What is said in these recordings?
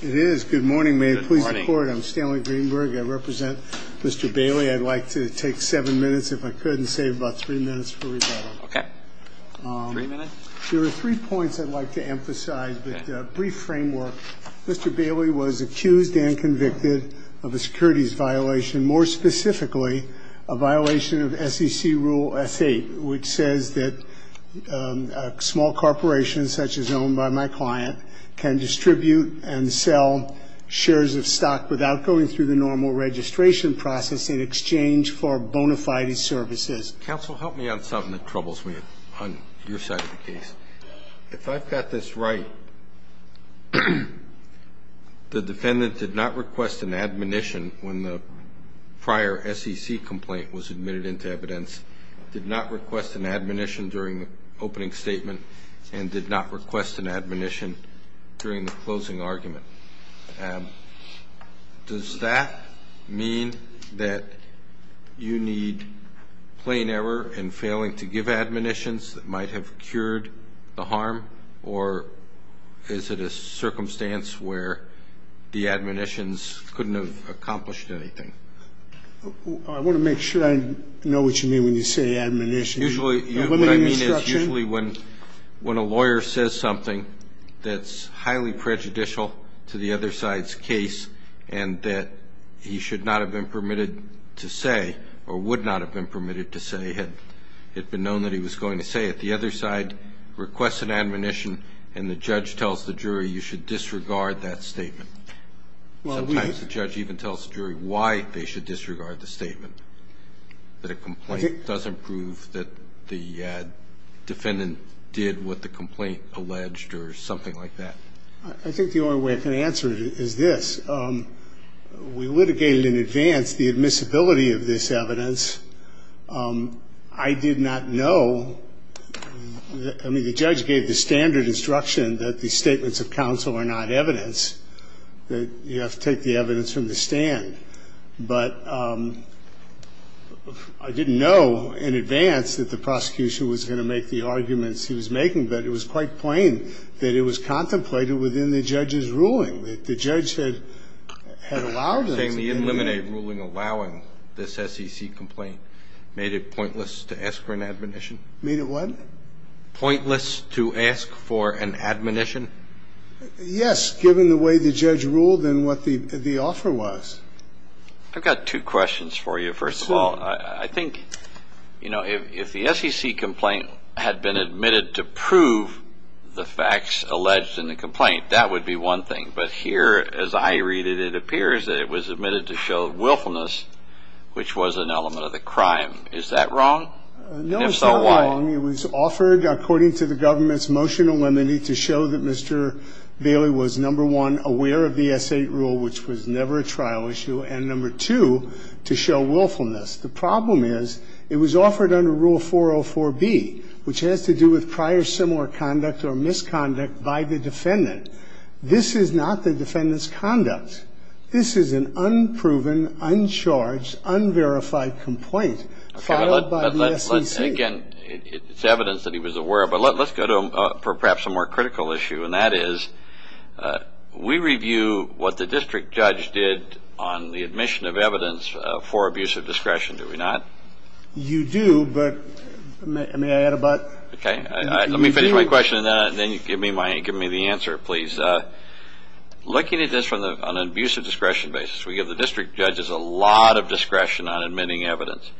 Good morning. I'm Stanley Greenberg. I represent Mr. Bailey. I'd like to take seven minutes, if I could, and save about three minutes for rebuttal. There are three points I'd like to emphasize. With brief framework, Mr. Bailey was accused and convicted of a securities violation, more specifically a violation of SEC Rule S.8, which says that small corporations such as owned by my client can distribute and sell shares of stock without going through the normal registration process in exchange for bona fide services. Counsel, help me on something that troubles me on your side of the case. If I've got this right, the defendant did not request an admonition when the prior SEC complaint was admitted into evidence, did not request an admonition during the opening statement, and did not request an admonition during the closing argument. Does that mean that you need plain error in failing to give admonitions that might have cured the harm, or is it a circumstance where the admonitions couldn't have accomplished anything? I want to make sure I know what you mean when you say admonition. Usually what I mean is usually when a lawyer says something that's highly prejudicial to the other side's case and that he should not have been permitted to say or would not have been permitted to say had it been known that he was going to say it, the other side requests an admonition and the judge tells the jury you should disregard that statement. Sometimes the judge even tells the jury why they should disregard the statement, that a complaint doesn't prove that the defendant did what the complaint alleged or something like that. I think the only way I can answer it is this. We litigated in advance the admissibility of this evidence. I did not know. I mean, the judge gave the standard instruction that the statements of counsel are not evidence, that you have to take the evidence from the stand. But I didn't know in advance that the prosecution was going to make the arguments he was making, but it was quite plain that it was contemplated within the judge's ruling, that the judge had allowed them to do that. Eliminate ruling allowing this SEC complaint made it pointless to ask for an admonition? Made it what? Pointless to ask for an admonition? Yes, given the way the judge ruled and what the offer was. I've got two questions for you. First of all, I think, you know, if the SEC complaint had been admitted to prove the facts alleged in the complaint, that would be one thing. But here, as I read it, it appears that it was admitted to show willfulness, which was an element of the crime. Is that wrong? No, it's not wrong. It was offered, according to the government's motion eliminating, to show that Mr. Bailey was, number one, aware of the S.A. rule, which was never a trial issue, and, number two, to show willfulness. The problem is it was offered under Rule 404B, which has to do with prior similar conduct or misconduct by the defendant. This is not the defendant's conduct. This is an unproven, uncharged, unverified complaint filed by the SEC. Again, it's evidence that he was aware of. But let's go to perhaps a more critical issue, and that is we review what the district judge did on the admission of evidence for abuse of discretion, do we not? You do, but may I add about? Okay. Let me finish my question, and then give me the answer, please. Looking at this on an abuse of discretion basis, we give the district judges a lot of discretion on admitting evidence.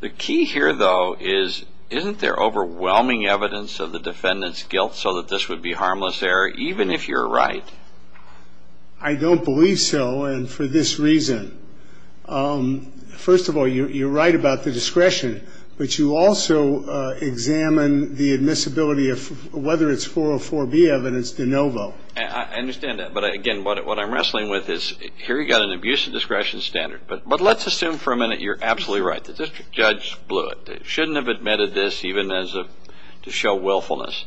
The key here, though, is isn't there overwhelming evidence of the defendant's guilt so that this would be harmless error, even if you're right? I don't believe so, and for this reason. First of all, you're right about the discretion, but you also examine the admissibility of whether it's 404B evidence de novo. I understand that. But, again, what I'm wrestling with is here you've got an abuse of discretion standard. But let's assume for a minute you're absolutely right. The district judge blew it. They shouldn't have admitted this even to show willfulness.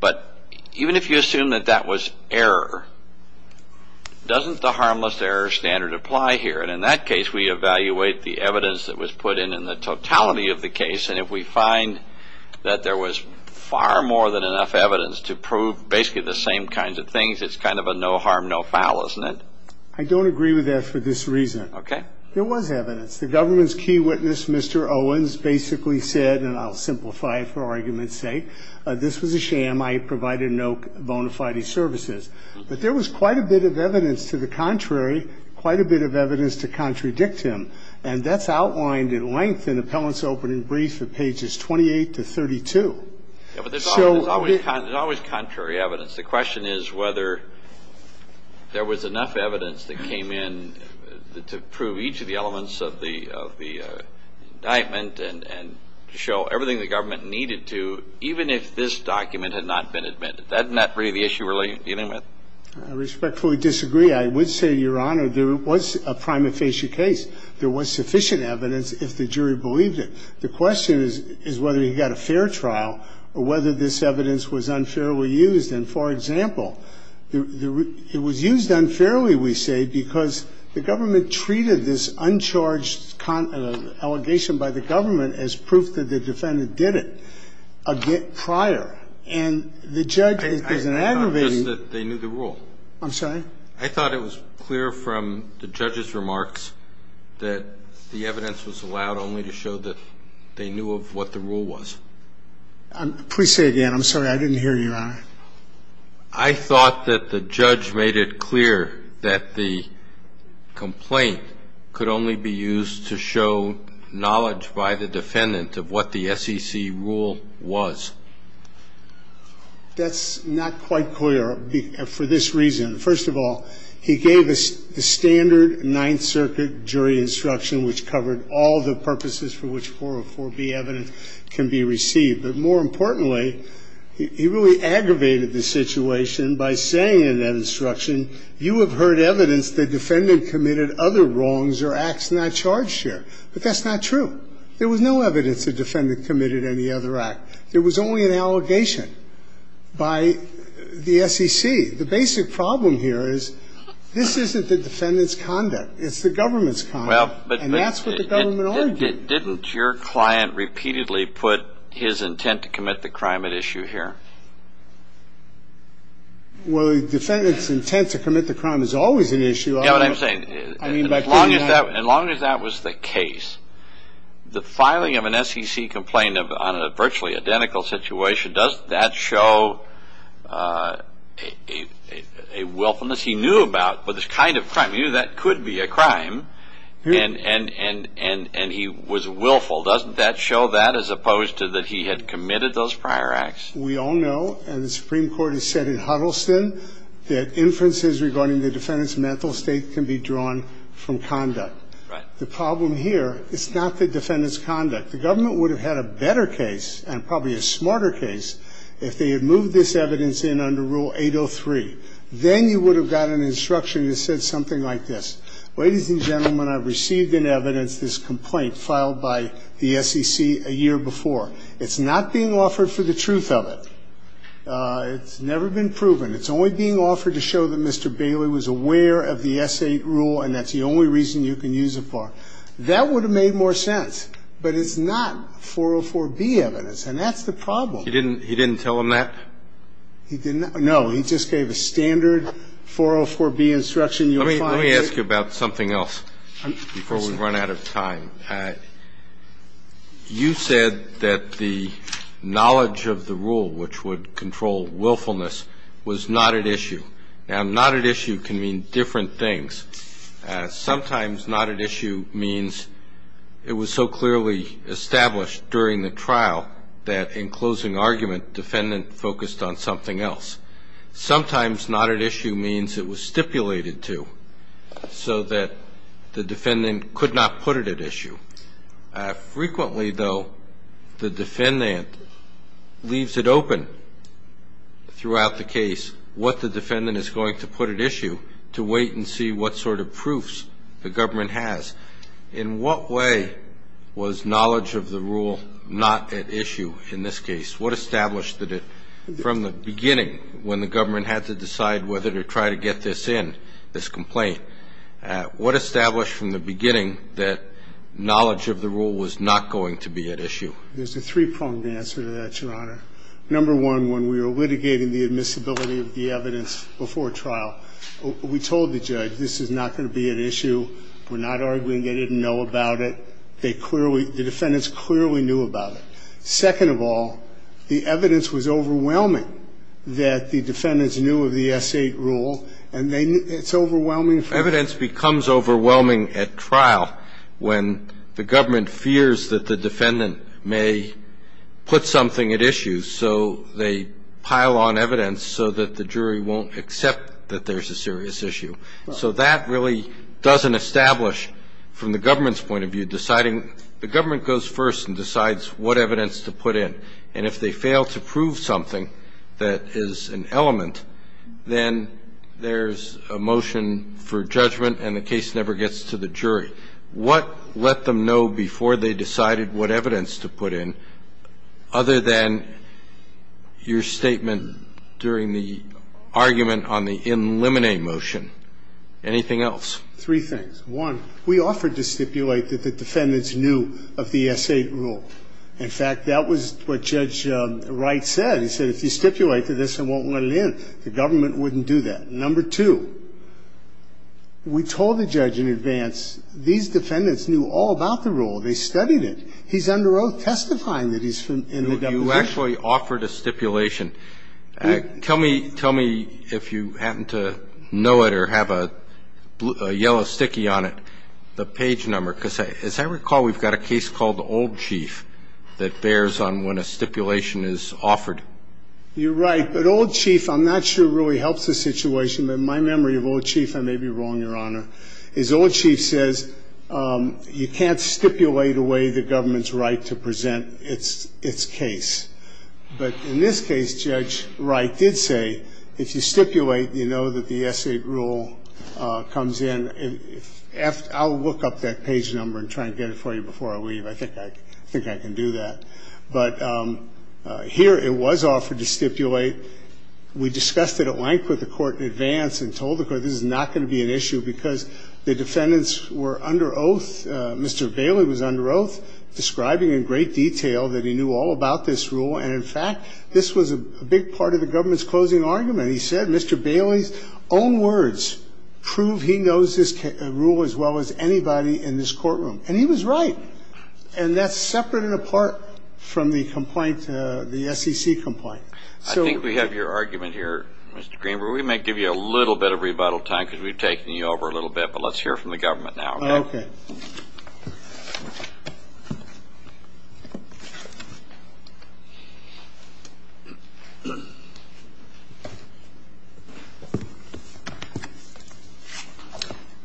But even if you assume that that was error, doesn't the harmless error standard apply here? And in that case, we evaluate the evidence that was put in and the totality of the case, and if we find that there was far more than enough evidence to prove basically the same kinds of things, it's kind of a no harm, no foul, isn't it? I don't agree with that for this reason. Okay. There was evidence. The government's key witness, Mr. Owens, basically said, and I'll simplify it for argument's sake, this was a sham. I provided no bona fide services. But there was quite a bit of evidence to the contrary, quite a bit of evidence to contradict him, and that's outlined in length in Appellant's opening brief at pages 28 to 32. Yeah, but there's always contrary evidence. The question is whether there was enough evidence that came in to prove each of the elements of the indictment and to show everything the government needed to, even if this document had not been admitted. Isn't that really the issue we're dealing with? I respectfully disagree. I would say, Your Honor, there was a prima facie case. There was sufficient evidence if the jury believed it. The question is whether he got a fair trial or whether this evidence was unfairly used. And, for example, it was used unfairly, we say, because the government treated this uncharged allegation by the government as proof that the defendant did it prior. And the judge has been aggravated. It's not just that they knew the rule. I'm sorry? I thought it was clear from the judge's remarks that the evidence was allowed only to show that they knew of what the rule was. Please say again. I'm sorry, I didn't hear you, Your Honor. I thought that the judge made it clear that the complaint could only be used to show knowledge by the defendant of what the SEC rule was. That's not quite clear for this reason. First of all, he gave a standard Ninth Circuit jury instruction, which covered all the purposes for which 404B evidence can be received. But more importantly, he really aggravated the situation by saying in that instruction, you have heard evidence the defendant committed other wrongs or acts not charged here. But that's not true. There was no evidence the defendant committed any other act. There was only an allegation by the SEC. The basic problem here is this isn't the defendant's conduct. It's the government's conduct. And that's what the government argued. Didn't your client repeatedly put his intent to commit the crime at issue here? Well, the defendant's intent to commit the crime is always an issue. You know what I'm saying? As long as that was the case, the filing of an SEC complaint on a virtually identical situation, does that show a willfulness? He knew about what this kind of crime, he knew that could be a crime. And he was willful. Doesn't that show that as opposed to that he had committed those prior acts? We all know, and the Supreme Court has said in Huddleston, that inferences regarding the defendant's mental state can be drawn from conduct. Right. The problem here is not the defendant's conduct. The government would have had a better case and probably a smarter case if they had moved this evidence in under Rule 803. Then you would have got an instruction that said something like this. Ladies and gentlemen, I've received in evidence this complaint filed by the SEC a year before. It's not being offered for the truth of it. It's never been proven. It's only being offered to show that Mr. Bailey was aware of the S8 rule and that's the only reason you can use it for. That would have made more sense. But it's not 404B evidence, and that's the problem. He didn't tell him that? No, he just gave a standard 404B instruction. Let me ask you about something else before we run out of time. You said that the knowledge of the rule which would control willfulness was not at issue. Now, not at issue can mean different things. Sometimes not at issue means it was so clearly established during the trial that, in closing argument, defendant focused on something else. Sometimes not at issue means it was stipulated to so that the defendant could not put it at issue. Frequently, though, the defendant leaves it open throughout the case what the defendant is going to put at issue to wait and see what sort of proofs the government has. In what way was knowledge of the rule not at issue in this case? What established that from the beginning when the government had to decide whether to try to get this in, this complaint, what established from the beginning that knowledge of the rule was not going to be at issue? There's a three-pronged answer to that, Your Honor. Number one, when we were litigating the admissibility of the evidence before trial, we told the judge this is not going to be at issue. We're not arguing they didn't know about it. The defendants clearly knew about it. Second of all, the evidence was overwhelming that the defendants knew of the S.A. rule, and it's overwhelming. Evidence becomes overwhelming at trial when the government fears that the defendant may put something at issue, so they pile on evidence so that the jury won't accept that there's a serious issue. So that really doesn't establish, from the government's point of view, deciding. The government goes first and decides what evidence to put in. And if they fail to prove something that is an element, then there's a motion for judgment and the case never gets to the jury. What let them know before they decided what evidence to put in other than your statement during the argument on the in limine motion? Anything else? Three things. One, we offered to stipulate that the defendants knew of the S.A. rule. In fact, that was what Judge Wright said. He said if you stipulate to this, I won't let it in. The government wouldn't do that. Number two, we told the judge in advance these defendants knew all about the rule. They studied it. He's under oath testifying that he's from the W.H. You actually offered a stipulation. Tell me if you happen to know it or have a yellow sticky on it, the page number. Because as I recall, we've got a case called Old Chief that bears on when a stipulation is offered. You're right. But Old Chief, I'm not sure really helps the situation. But in my memory of Old Chief, I may be wrong, Your Honor. As Old Chief says, you can't stipulate away the government's right to present its case. But in this case, Judge Wright did say if you stipulate, you know that the S.A. rule comes in. I'll look up that page number and try and get it for you before I leave. I think I can do that. But here it was offered to stipulate. We discussed it at length with the court in advance and told the court this is not going to be an issue because the defendants were under oath. Mr. Bailey was under oath, describing in great detail that he knew all about this rule. And, in fact, this was a big part of the government's closing argument. He said Mr. Bailey's own words prove he knows this rule as well as anybody in this courtroom. And he was right. And that's separate and apart from the complaint, the SEC complaint. I think we have your argument here, Mr. Greenberg. We might give you a little bit of rebuttal time because we've taken you over a little bit. But let's hear from the government now. Okay.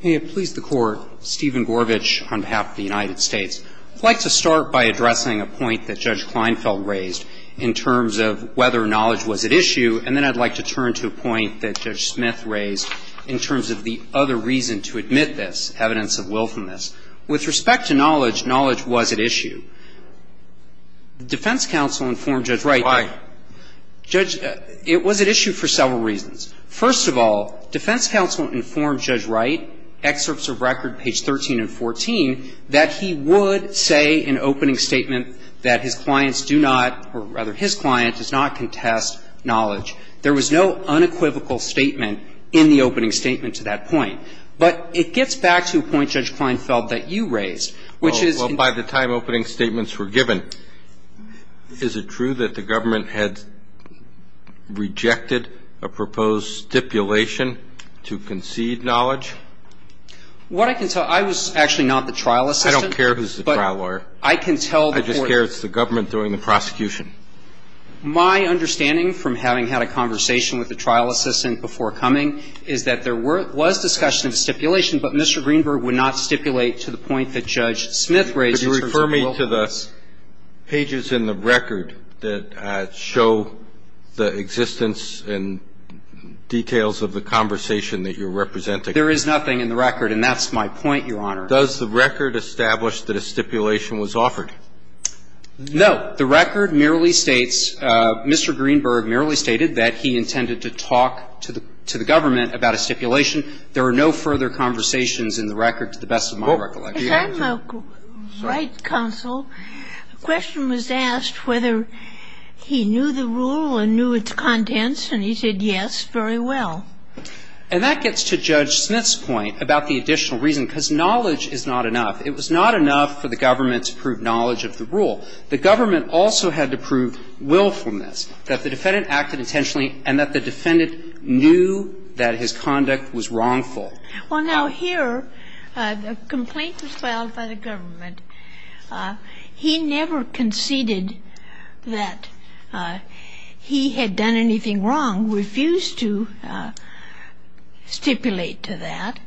May it please the Court. Steven Gorvitch on behalf of the United States. I'd like to start by addressing a point that Judge Kleinfeld raised in terms of whether knowledge was at issue, and then I'd like to turn to a point that Judge Smith raised in terms of the other reason to admit this, evidence of wilfulness. With respect to knowledge, knowledge was at issue. The defense counsel informed Judge Wright. Why? Judge, it was at issue for several reasons. First of all, defense counsel informed Judge Wright, excerpts of record page 13 and 14, that he would say in opening statement that his clients do not, or rather his client does not contest knowledge. There was no unequivocal statement in the opening statement to that point. But it gets back to a point, Judge Kleinfeld, that you raised, which is. Well, by the time opening statements were given, is it true that the government had rejected a proposed stipulation to concede knowledge? What I can tell you, I was actually not the trial assistant. I don't care who's the trial lawyer. But I can tell the Court. I just care it's the government doing the prosecution. My understanding from having had a conversation with the trial assistant before coming is that there was discussion of stipulation, but Mr. Greenberg would not stipulate to the point that Judge Smith raised in terms of wilfulness. Could you refer me to the pages in the record that show the existence and details of the conversation that you're representing? There is nothing in the record, and that's my point, Your Honor. Does the record establish that a stipulation was offered? No. The record merely states, Mr. Greenberg merely stated that he intended to talk to the government about a stipulation. There are no further conversations in the record, to the best of my recollection. If I'm not right, counsel, the question was asked whether he knew the rule and knew its contents, and he said yes very well. And that gets to Judge Smith's point about the additional reason, because knowledge is not enough. It was not enough for the government to prove knowledge of the rule. The government also had to prove willfulness, that the defendant acted intentionally and that the defendant knew that his conduct was wrongful. Well, now, here a complaint was filed by the government. He never conceded that he had done anything wrong, refused to stipulate to that.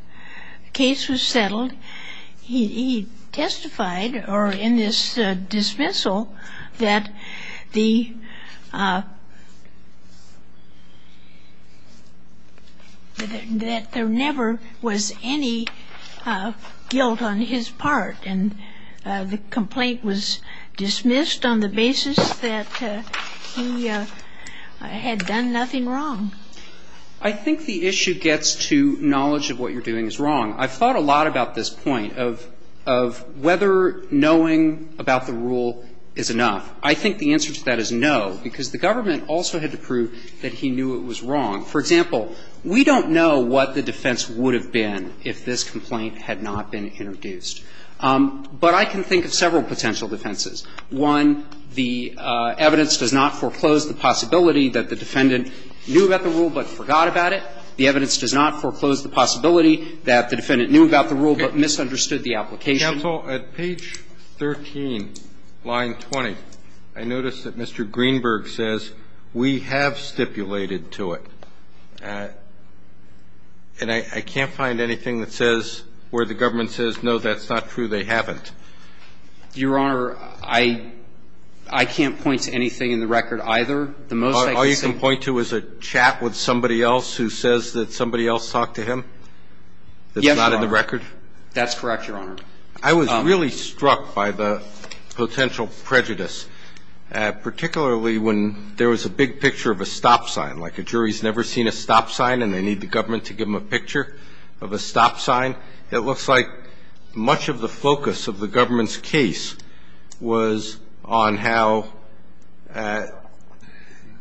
The case was settled. He testified, or in this dismissal, that there never was any guilt on his part. And the complaint was dismissed on the basis that he had done nothing wrong. I think the issue gets to knowledge of what you're doing is wrong. I've thought a lot about this point of whether knowing about the rule is enough. I think the answer to that is no, because the government also had to prove that he knew it was wrong. For example, we don't know what the defense would have been if this complaint had not been introduced. But I can think of several potential defenses. One, the evidence does not foreclose the possibility that the defendant knew about the rule but forgot about it. The evidence does not foreclose the possibility that the defendant knew about the rule but misunderstood the application. Counsel, at page 13, line 20, I notice that Mr. Greenberg says, we have stipulated to it. And I can't find anything that says where the government says, no, that's not true, they haven't. Your Honor, I can't point to anything in the record either. All you can point to is a chat with somebody else who says that somebody else talked to him? Yes, Your Honor. That's not in the record? That's correct, Your Honor. I was really struck by the potential prejudice, particularly when there was a big picture of a stop sign, like a jury's never seen a stop sign and they need the government to give them a picture of a stop sign. It looks like much of the focus of the government's case was on how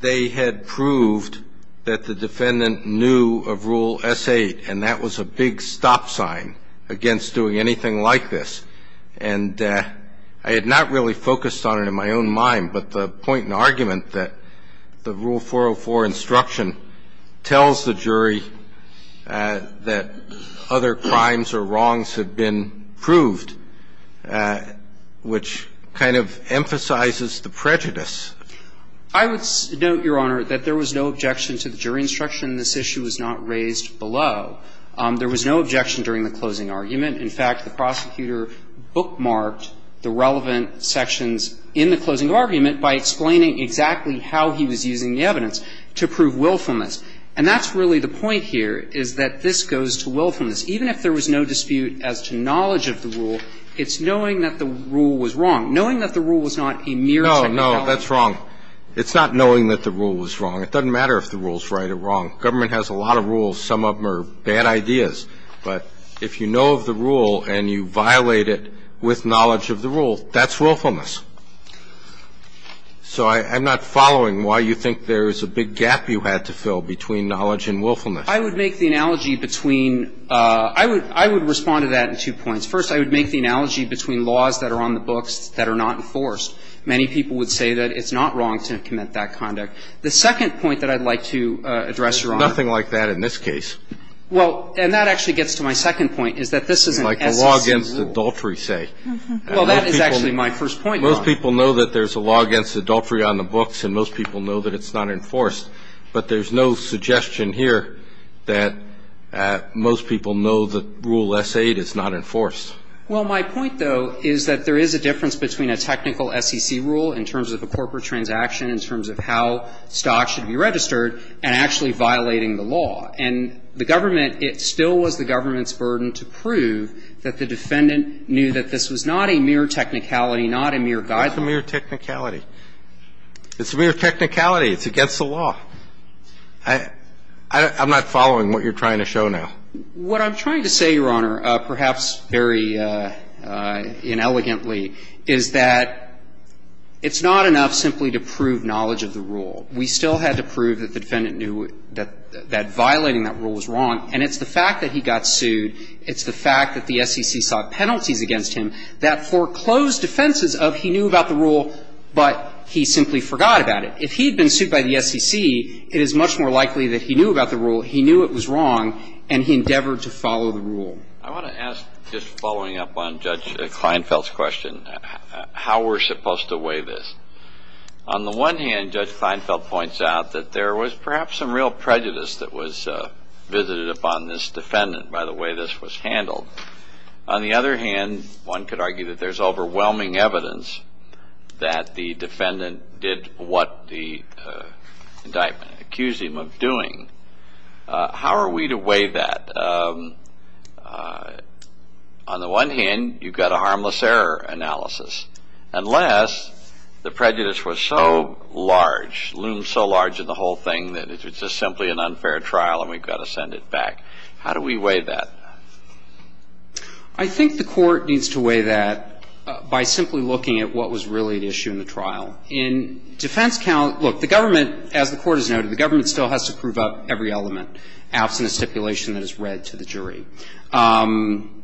they had proved that the defendant knew of Rule S.8 and that was a big stop sign against doing anything like this. And I had not really focused on it in my own mind, but the point and argument that the Rule 404 instruction tells the jury that other crimes or wrongs have been proved, which kind of emphasizes the prejudice. I would note, Your Honor, that there was no objection to the jury instruction in this issue. It was not raised below. There was no objection during the closing argument. In fact, the prosecutor bookmarked the relevant sections in the closing argument by explaining exactly how he was using the evidence to prove willfulness. And that's really the point here, is that this goes to willfulness. Even if there was no dispute as to knowledge of the rule, it's knowing that the rule was wrong. Knowing that the rule was not a mere technicality. No, no. That's wrong. It's not knowing that the rule was wrong. It doesn't matter if the rule is right or wrong. Government has a lot of rules. Some of them are bad ideas. But if you know of the rule and you violate it with knowledge of the rule, that's willfulness. So I'm not following why you think there's a big gap you had to fill between knowledge and willfulness. I would make the analogy between – I would respond to that in two points. First, I would make the analogy between laws that are on the books that are not enforced. Many people would say that it's not wrong to commit that conduct. The second point that I'd like to address, Your Honor. There's nothing like that in this case. Well, and that actually gets to my second point, is that this is an SEC rule. Like the law against adultery, say. Well, that is actually my first point, Your Honor. Most people know that there's a law against adultery on the books, and most people know that it's not enforced. But there's no suggestion here that most people know that Rule S. 8 is not enforced. Well, my point, though, is that there is a difference between a technical SEC rule in terms of a corporate transaction, in terms of how stocks should be registered, and actually violating the law. And the government, it still was the government's burden to prove that the defendant knew that this was not a mere technicality, not a mere guideline. It's a mere technicality. It's a mere technicality. It's against the law. I'm not following what you're trying to show now. What I'm trying to say, Your Honor, perhaps very inelegantly, is that it's not enough simply to prove knowledge of the rule. We still had to prove that the defendant knew that violating that rule was wrong. And it's the fact that he got sued. It's the fact that the SEC sought penalties against him that foreclosed defenses of he knew about the rule, but he simply forgot about it. If he had been sued by the SEC, it is much more likely that he knew about the rule, he knew it was wrong, and he endeavored to follow the rule. I want to ask, just following up on Judge Kleinfeld's question, how we're supposed to weigh this. On the one hand, Judge Kleinfeld points out that there was perhaps some real prejudice that was visited upon this defendant by the way this was handled. On the other hand, one could argue that there's overwhelming evidence that the defendant did what the indictment accused him of doing. How are we to weigh that? On the one hand, you've got a harmless error analysis. Unless the prejudice was so large, loomed so large in the whole thing, that it's just simply an unfair trial and we've got to send it back. How do we weigh that? I think the Court needs to weigh that by simply looking at what was really at issue in the trial. In defense count, look, the government, as the Court has noted, the government still has to prove up every element, absent a stipulation that is read to the jury. But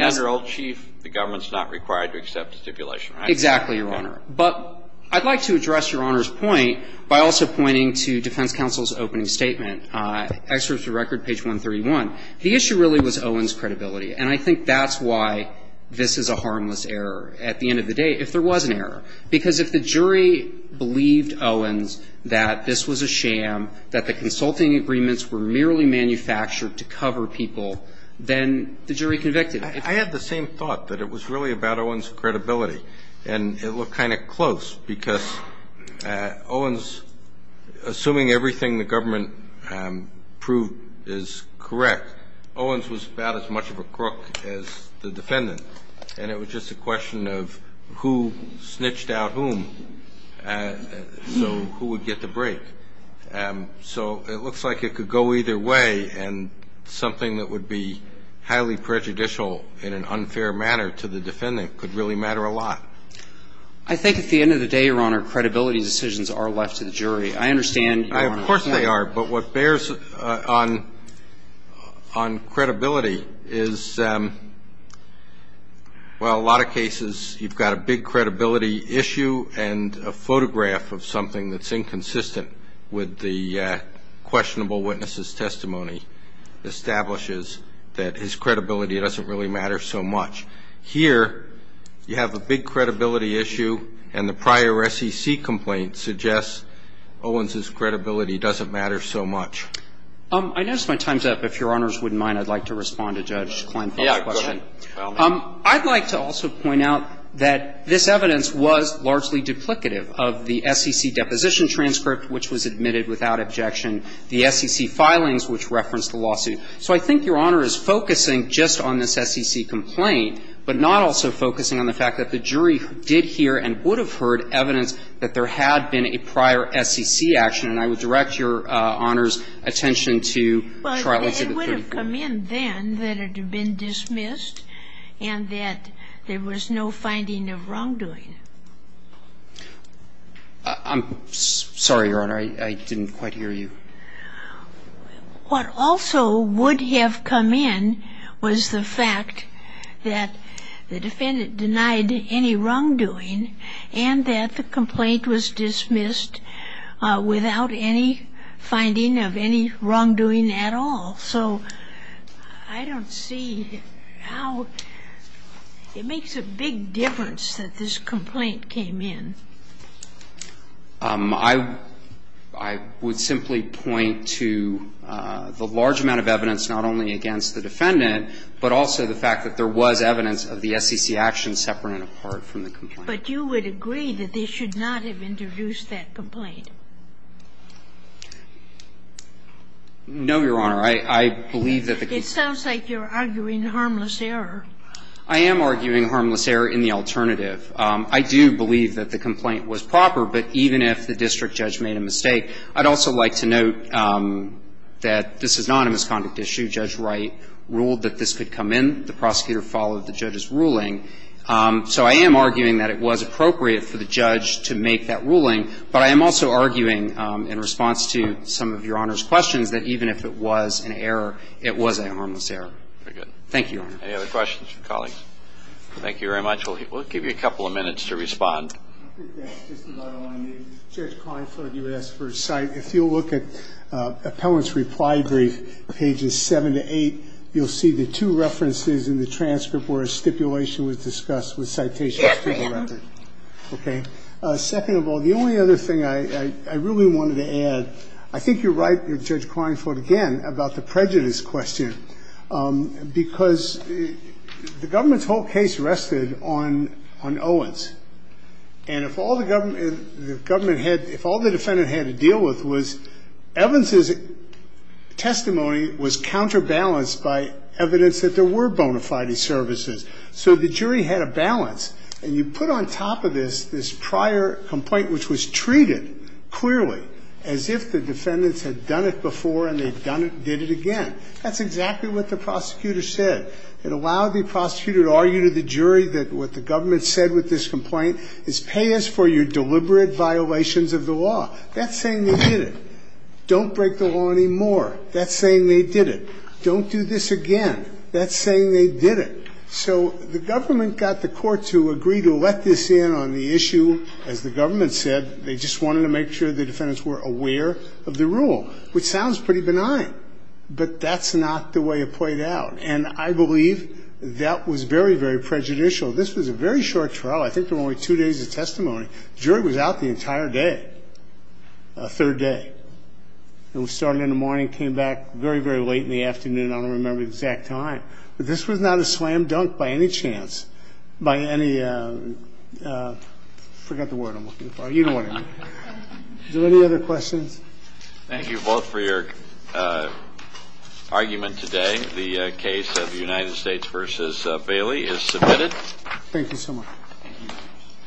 as an old chief, the government's not required to accept a stipulation, right? Exactly, Your Honor. But I'd like to address Your Honor's point by also pointing to defense counsel's opening statement. Excerpts of record, page 131. The issue really was Owens' credibility. And I think that's why this is a harmless error at the end of the day, if there was an error. Because if the jury believed Owens that this was a sham, that the consulting agreements were merely manufactured to cover people, then the jury convicted. I had the same thought, that it was really about Owens' credibility. And it looked kind of close. Because Owens, assuming everything the government proved is correct, Owens was about as much of a crook as the defendant. And it was just a question of who snitched out whom, so who would get the break. So it looks like it could go either way, and something that would be highly prejudicial in an unfair manner to the defendant could really matter a lot. I think at the end of the day, Your Honor, credibility decisions are left to the jury. I understand. Of course they are. But what bears on credibility is, well, a lot of cases you've got a big credibility issue and a photograph of something that's inconsistent with the questionable witnesses' testimony establishes that his credibility doesn't really matter so much. Here, you have a big credibility issue, and the prior SEC complaint suggests Owens' credibility doesn't matter so much. I notice my time's up. If Your Honors wouldn't mind, I'd like to respond to Judge Klein's question. Yeah, go ahead. I'd like to also point out that this evidence was largely duplicative of the SEC deposition transcript, which was admitted without objection. The SEC filings, which referenced the lawsuit. So I think Your Honor is focusing just on this SEC complaint, but not also focusing on the fact that the jury did hear and would have heard evidence that there had been a prior SEC action. And I would direct Your Honor's attention to Charlottesville 34. Well, it would have come in then that it had been dismissed and that there was no finding of wrongdoing. I'm sorry, Your Honor. I didn't quite hear you. What also would have come in was the fact that the defendant denied any wrongdoing and that the complaint was dismissed without any finding of any wrongdoing at all. So I don't see how it makes a big difference that this complaint came in. I would simply point to the large amount of evidence not only against the defendant, but also the fact that there was evidence of the SEC action separate and apart from the complaint. But you would agree that they should not have introduced that complaint? No, Your Honor. I believe that the complaint. It sounds like you're arguing harmless error. I am arguing harmless error in the alternative. I do believe that the complaint was proper. But even if the district judge made a mistake, I'd also like to note that this is not a misconduct issue. Judge Wright ruled that this could come in. The prosecutor followed the judge's ruling. So I am arguing that it was appropriate for the judge to make that ruling. But I am also arguing in response to some of Your Honor's questions that even if it was an error, it was a harmless error. Very good. Thank you, Your Honor. Any other questions from colleagues? Thank you very much. We'll give you a couple of minutes to respond. I think that's just about all I need. Judge Klineford, you asked for a cite. If you'll look at appellant's reply brief, pages 7 to 8, you'll see the two references in the transcript where a stipulation was discussed with citations to the record. Yes, I have. Okay. Second of all, the only other thing I really wanted to add, I think you're right, Judge Klineford, again, about the prejudice question. Because the government's whole case rested on Owens. And if all the government had, if all the defendant had to deal with was Evans' testimony was counterbalanced by evidence that there were bona fide services. So the jury had a balance. And you put on top of this this prior complaint which was treated clearly as if the defendants had done it before and they did it again. That's exactly what the prosecutor said. It allowed the prosecutor to argue to the jury that what the government said with this complaint is pay us for your deliberate violations of the law. That's saying they did it. Don't break the law anymore. That's saying they did it. Don't do this again. That's saying they did it. So the government got the court to agree to let this in on the issue. As the government said, they just wanted to make sure the defendants were aware of the rule, which sounds pretty benign. But that's not the way it played out. And I believe that was very, very prejudicial. This was a very short trial. I think there were only two days of testimony. The jury was out the entire day, third day. It started in the morning, came back very, very late in the afternoon. I don't remember the exact time. But this was not a slam dunk by any chance, by any ‑‑ I forgot the word I'm looking for. You know what I mean. Is there any other questions? Thank you both for your argument today. The case of United States v. Bailey is submitted. Thank you so much. Thank you.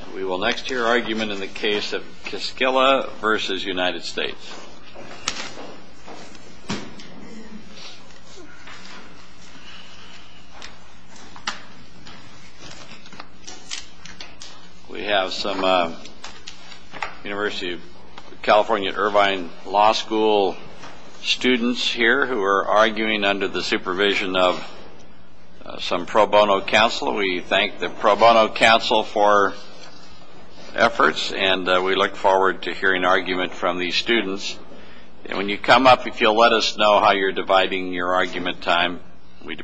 And we will next hear your argument in the case of Kiskela v. United States. We have some University of California at Irvine Law School students here who are arguing under the supervision of some pro bono counsel. We thank the pro bono counsel for efforts, and we look forward to hearing argument from these students. And when you come up, if you'll let us know how you're dividing your argument time, we'd